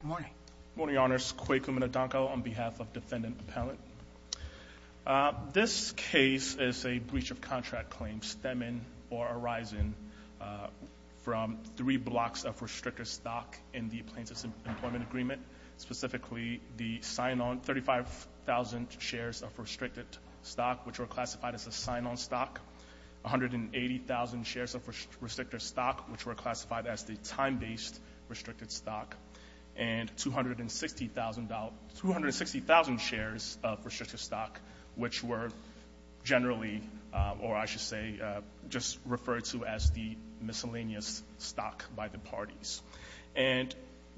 Good morning. Good morning, Your Honors. Quay Kumunodonko on behalf of Defendant Appellant. This case is a breach of contract claim, stemming or arising from three blocks of restricted stock in the Plaintiff's Employment Agreement, specifically the sign-on 35,000 shares of restricted stock, which were classified as a sign-on stock, 180,000 shares of restricted stock, which were classified as the time-based restricted stock, and 260,000 shares of restricted stock, which were generally, or I should say, just referred to as the miscellaneous stock by the parties. And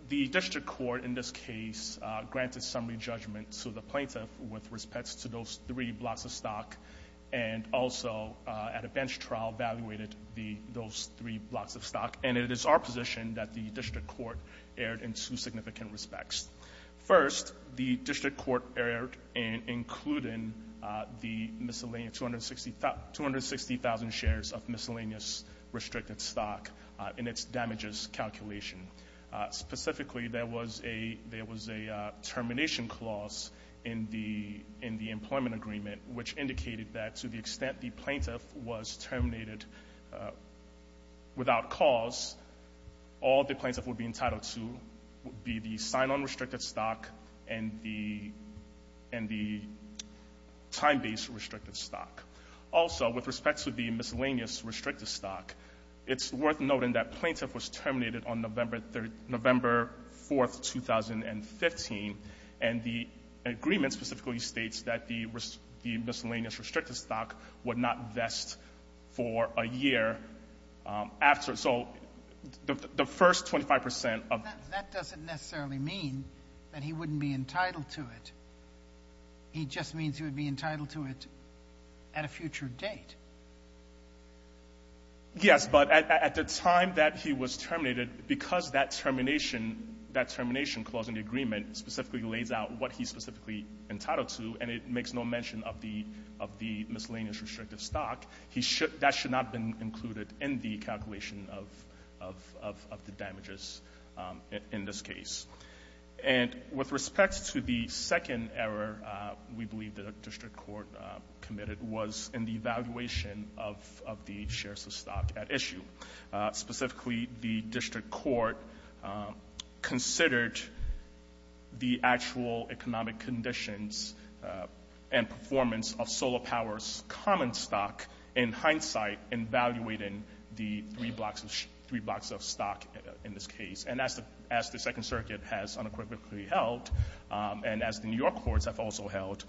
the District Court in this case granted summary judgment to the Plaintiff with respect to those three blocks of stock and also at those three blocks of stock. And it is our position that the District Court erred in two significant respects. First, the District Court erred in including the miscellaneous 260,000 shares of miscellaneous restricted stock in its damages calculation. Specifically, there was a termination clause in the Employment Agreement, which indicated that to the extent the Plaintiff was terminated without cause, all the Plaintiff would be entitled to would be the sign-on restricted stock and the time-based restricted stock. Also, with respect to the miscellaneous restricted stock, it's worth noting that Plaintiff was terminated on November 4th, 2015, and the agreement specifically states that the miscellaneous restricted stock would not vest for a year after. So the first 25 percent of the — That doesn't necessarily mean that he wouldn't be entitled to it. He just means he would be entitled to it at a future date. Yes, but at the time that he was terminated, because that termination, that termination clause in the agreement, specifically lays out what he's specifically entitled to, and it makes no mention of the — of the miscellaneous restricted stock, he should — that should not have been included in the calculation of — of the damages in this case. And with respect to the second error we believe the District Court committed was in the evaluation of — of the shares of stock at issue. Specifically, the District Court considered the actual economic conditions and performance of Solar Power's common stock in hindsight in evaluating the three blocks of — three blocks of stock in this case. And as the — as the Second Circuit has unequivocally held, and as the New York courts have also held,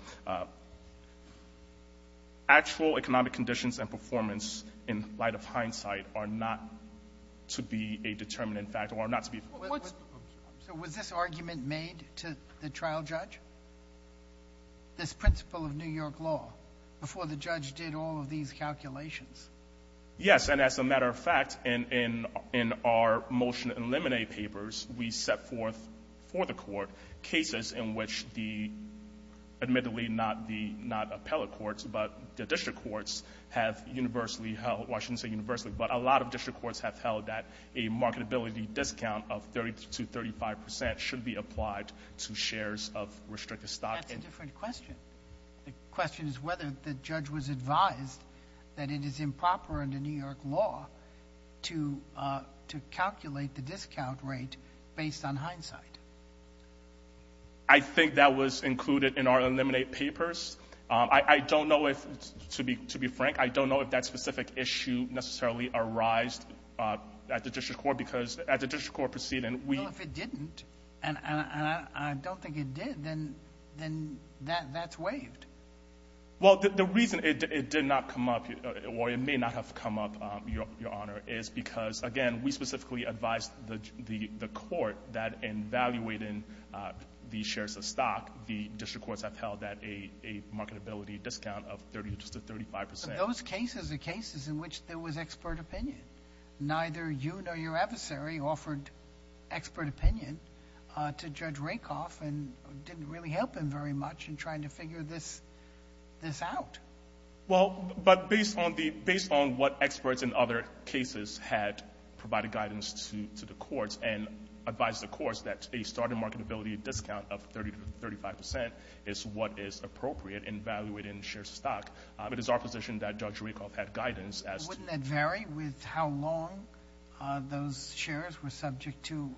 actual economic conditions and performance in light of hindsight are not to be a determinant factor, or not to be — What's — So was this argument made to the trial judge, this principle of New York law, before the judge did all of these calculations? Yes. And as a matter of fact, in — in our motion and lemonade papers, we set forth for the court cases in which the — admittedly, not the — not appellate courts, but the district courts have universally held — well, I shouldn't say universally, but a lot of district courts have held that a marketability discount of 30 to 35 percent should be applied to shares of restricted stock. That's a different question. The question is whether the judge was advised that it is I think that was included in our lemonade papers. I don't know if — to be — to be frank, I don't know if that specific issue necessarily arised at the district court, because at the district court proceeding, we — Well, if it didn't, and I don't think it did, then — then that's waived. Well, the reason it did not come up, or it may not have come up, Your Honor, is because, again, we specifically advised the court that in valuating the shares of stock, the district courts have held that a marketability discount of 30 to 35 percent — But those cases are cases in which there was expert opinion. Neither you nor your adversary offered expert opinion to Judge Rakoff, and didn't really help him very much in trying to figure this — this out. Well, but based on the — based on what experts in other cases had provided guidance to — to the courts and advised the courts that a starting marketability discount of 30 to 35 percent is what is appropriate in valuating shares of stock, it is our position that Judge Rakoff had guidance as to — Wouldn't that vary with how long those shares were subject to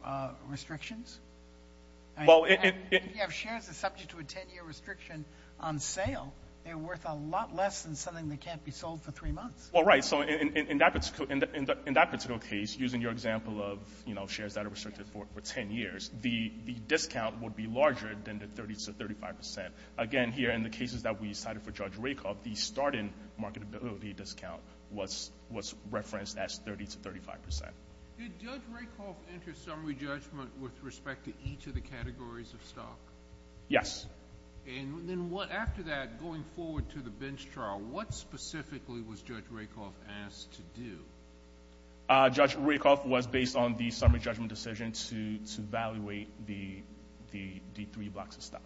restrictions? Well, it — If you have shares that are subject to a 10-year restriction on sale, they're worth a lot less than something that can't be sold for three months. Well, right. So in that particular case, using your example of, you know, shares that are restricted for 10 years, the discount would be larger than the 30 to 35 percent. Again, here in the cases that we cited for Judge Rakoff, the starting marketability discount was referenced as 30 to 35 percent. Did Judge Rakoff enter summary judgment with respect to each of the categories of stock? Yes. And then what — after that, going forward to the bench trial, what specifically was Judge Rakoff asked to do? Judge Rakoff was based on the summary judgment decision to — to evaluate the — the — the three blocks of stock.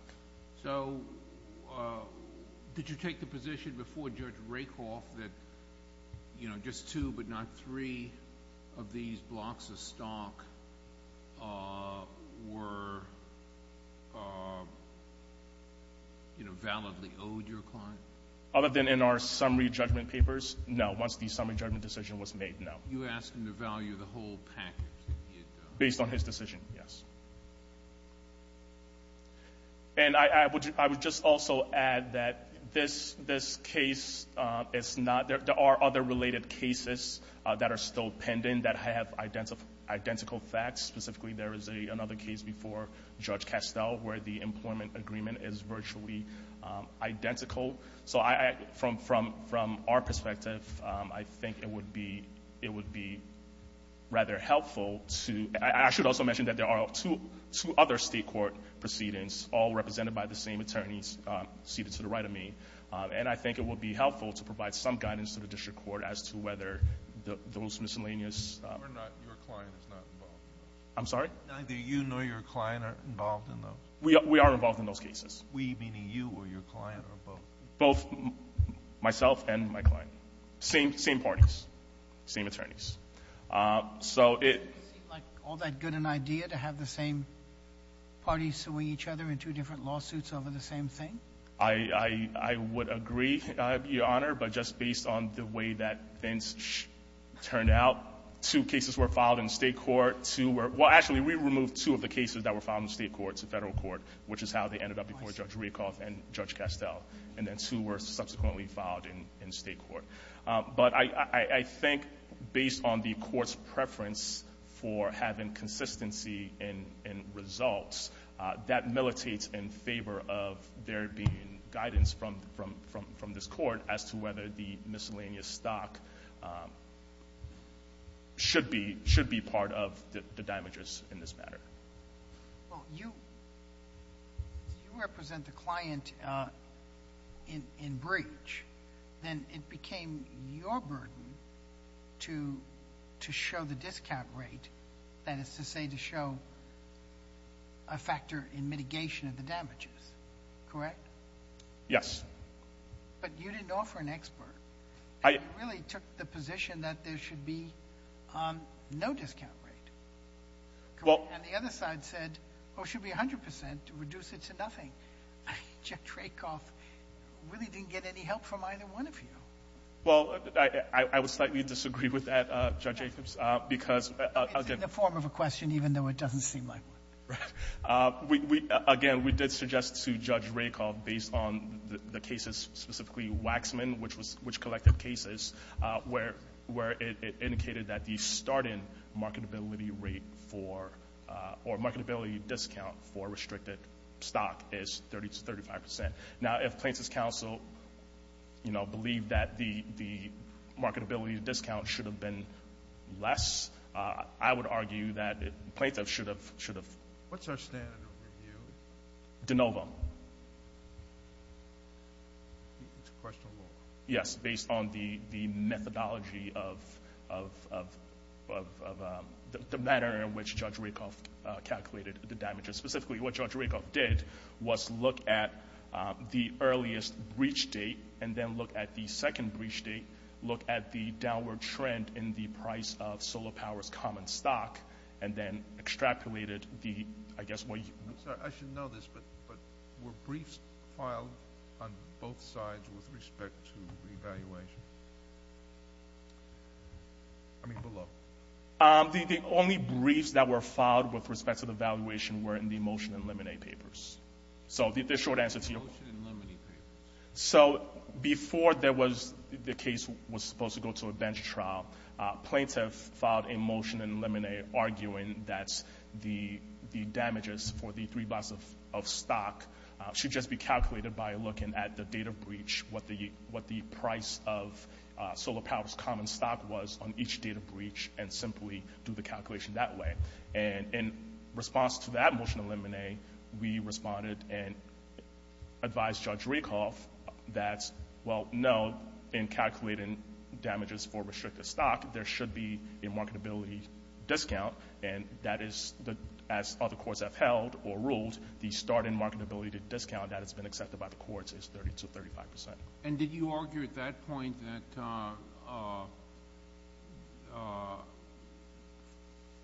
So did you take the position before Judge Rakoff that, you know, just two but not three of these blocks of stock were, you know, validly owed your client? Other than in our summary judgment papers, no. Once the summary judgment decision was made, no. You asked him to value the whole package that he had done. Based on his decision, yes. And I would — I would just also add that this — this case is not — there are other related cases that are still pending that have identical facts. Specifically, there is another case before Judge Castell where the employment agreement is virtually identical. So I — from — from our perspective, I think it would be — it would be rather helpful to — I should also mention that there are two — two other state court proceedings, all represented by the same attorneys seated to the right of me. And I think it would be helpful to provide some guidance to the district court as to whether those miscellaneous — You're not — your client is not involved in those? I'm sorry? Neither you nor your client are involved in those? We are — we are involved in those cases. We meaning you or your client or both? Both myself and my client. Same — same parties. Same attorneys. So it — It doesn't seem like all that good an idea to have the same parties suing each other in two different lawsuits over the same thing? I — I would agree, Your Honor, but just based on the way that things turned out, two cases were filed in state court, two were — well, actually, we removed two of the cases that were filed in state court to federal court, which is how they ended up before Judge Rakoff and Judge Castell. And then two were subsequently filed in state court. But I — I think based on the court's preference for having consistency in — in results, that militates in favor of there being guidance from — from — from this court as to whether the miscellaneous stock should be — should be part of the damages in this matter. Well, you — you represent the client in — in breach. Then it became your burden to — to show the discount rate, that is to say, to show a factor in mitigation of the damages, correct? Yes. But you didn't offer an expert. I — And you really took the position that there should be no discount rate, correct? Well — And the other side said, oh, it should be 100 percent to reduce it to nothing. Judge Rakoff really didn't get any help from either one of you. Well, I — I — I would slightly disagree with that, Judge Jacobs, because — It's in the form of a question, even though it doesn't seem like one. Right. We — we — again, we did suggest to Judge Rakoff, based on the cases, specifically Waxman, which was — which collected cases, where — where it indicated that the start-in marketability rate for — or marketability discount for restricted stock is 30 to 35 percent. Now, if Plaintiff's Counsel, you know, believed that the — the marketability discount should have been less, I would argue that Plaintiff should have — should have — What's our standard of review? De novo. It's questionable. Yes, based on the — the methodology of — of — of — of the manner in which Judge Rakoff calculated the damages. Specifically, what Judge Rakoff did was look at the earliest breach date and then look at the second breach date, look at the downward trend in the price of Solar Power's common stock, and then extrapolated the — I guess what you — I'm sorry, I should know this, but — but were briefs filed on both sides with respect to re-evaluation? I mean, below. The — the only briefs that were filed with respect to the valuation were in the Motion and Lemonade Papers. So the — the short answer to your — Motion and Lemonade Papers. So before there was — the case was supposed to go to a bench trial, Plaintiff filed a Motion and Lemonade arguing that the — the damages for the three blocks of — of stock should just be calculated by looking at the date of breach, what the — what the price of Solar Power's common stock was on each date of breach, and simply do the calculation that way. And in response to that Motion and Lemonade, we responded and advised Judge Rakoff that, well, no, in calculating damages for restricted stock, there should be a marketability discount, and that is the — as other courts have held or ruled, the start-in marketability discount that has been accepted by the courts is 30 to 35 percent. And did you argue at that point that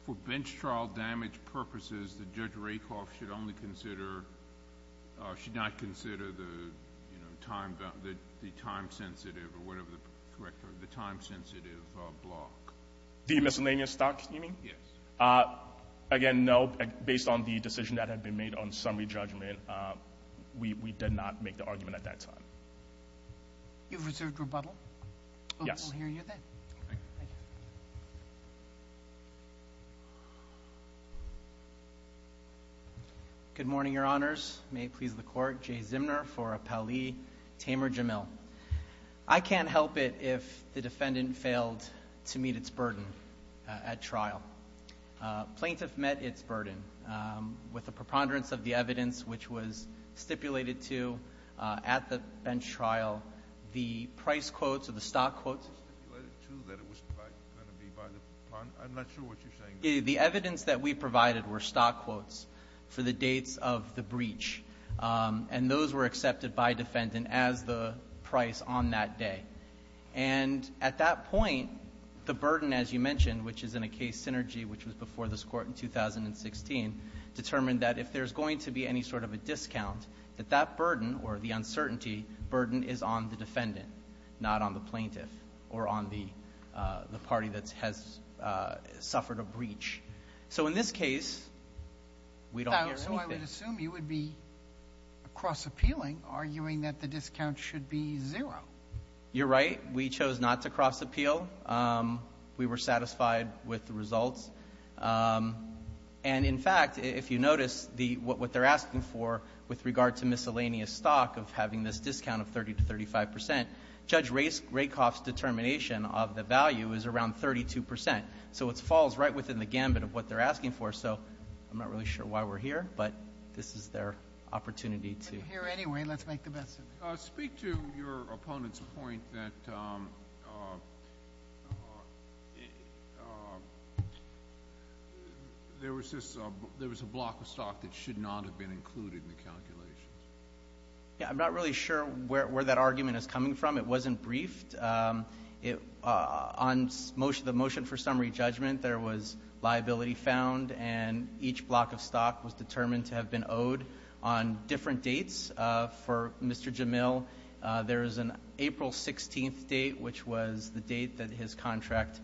for bench trial damage purposes, that Judge Rakoff should only consider — should not consider the, you know, time — the time-sensitive, or whatever the correct term, the time-sensitive block? The miscellaneous stock, you mean? Yes. Again, no, based on the decision that had been made on summary judgment, we — we did not make the argument at that time. You've reserved rebuttal? Yes. We'll hear you then. Thank you. Good morning, Your Honors. May it please the Court, Jay Zimner for Appellee Tamer Jamil. I can't help it if the defendant failed to meet its burden at trial. Plaintiff met its burden with a preponderance of the evidence which was stipulated to at the bench trial, the price quotes or the stock quotes. It was stipulated, too, that it was going to be by the — I'm not sure what you're saying there. The evidence that we provided were stock quotes for the dates of the breach. And those were accepted by defendant as the price on that day. And at that point, the burden, as you mentioned, which is in a case synergy which was before this court in 2016, determined that if there's going to be any sort of a discount, that that burden or the uncertainty burden is on the defendant, not on the plaintiff or on the party that has suffered a breach. So in this case, we don't hear anything. I would assume you would be cross-appealing, arguing that the discount should be zero. You're right. We chose not to cross-appeal. We were satisfied with the results. And in fact, if you notice, what they're asking for with regard to miscellaneous stock of having this discount of 30 to 35 percent, Judge Rakoff's determination of the value is around 32 percent. So it falls right within the gambit of what they're asking for. So I'm not really sure why we're here, but this is their opportunity to- We're here anyway. Let's make the best of it. Speak to your opponent's point that there was a block of stock that should not have been included in the calculations. Yeah, I'm not really sure where that argument is coming from. It wasn't briefed. On the motion for summary judgment, there was liability found, and each block of stock was determined to have been owed on different dates. For Mr. Jamil, there is an April 16th date, which was the date that his contract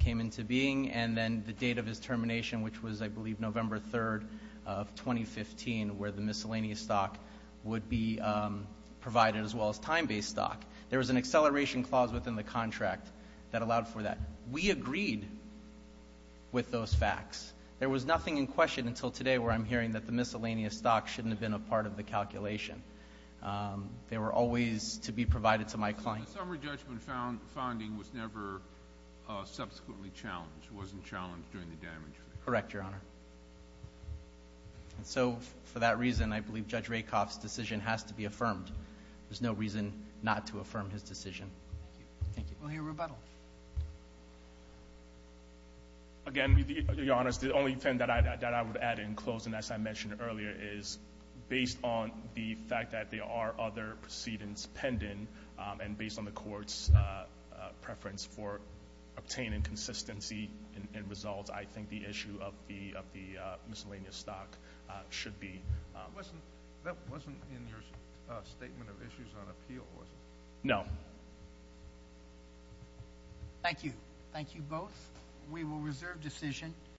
came into being, and then the date of his termination, which was, I believe, November 3rd of 2015, where the miscellaneous stock would be provided, as well as time-based stock. There was an acceleration clause within the contract that allowed for that. We agreed with those facts. There was nothing in question until today where I'm hearing that the miscellaneous stock shouldn't have been a part of the calculation. They were always to be provided to my client. So the summary judgment founding was never subsequently challenged, wasn't challenged during the damage? Correct, Your Honor. So for that reason, I believe Judge Rakoff's decision has to be affirmed. There's no reason not to affirm his decision. Thank you. We'll hear rebuttal. Again, Your Honor, the only thing that I would add in closing, as I mentioned earlier, is based on the fact that there are other proceedings pending, and based on the court's preference for obtaining consistency in results, I think the issue of the miscellaneous stock should be- That wasn't in your statement of issues on appeal, was it? No. Thank you. Thank you both. We will reserve decision.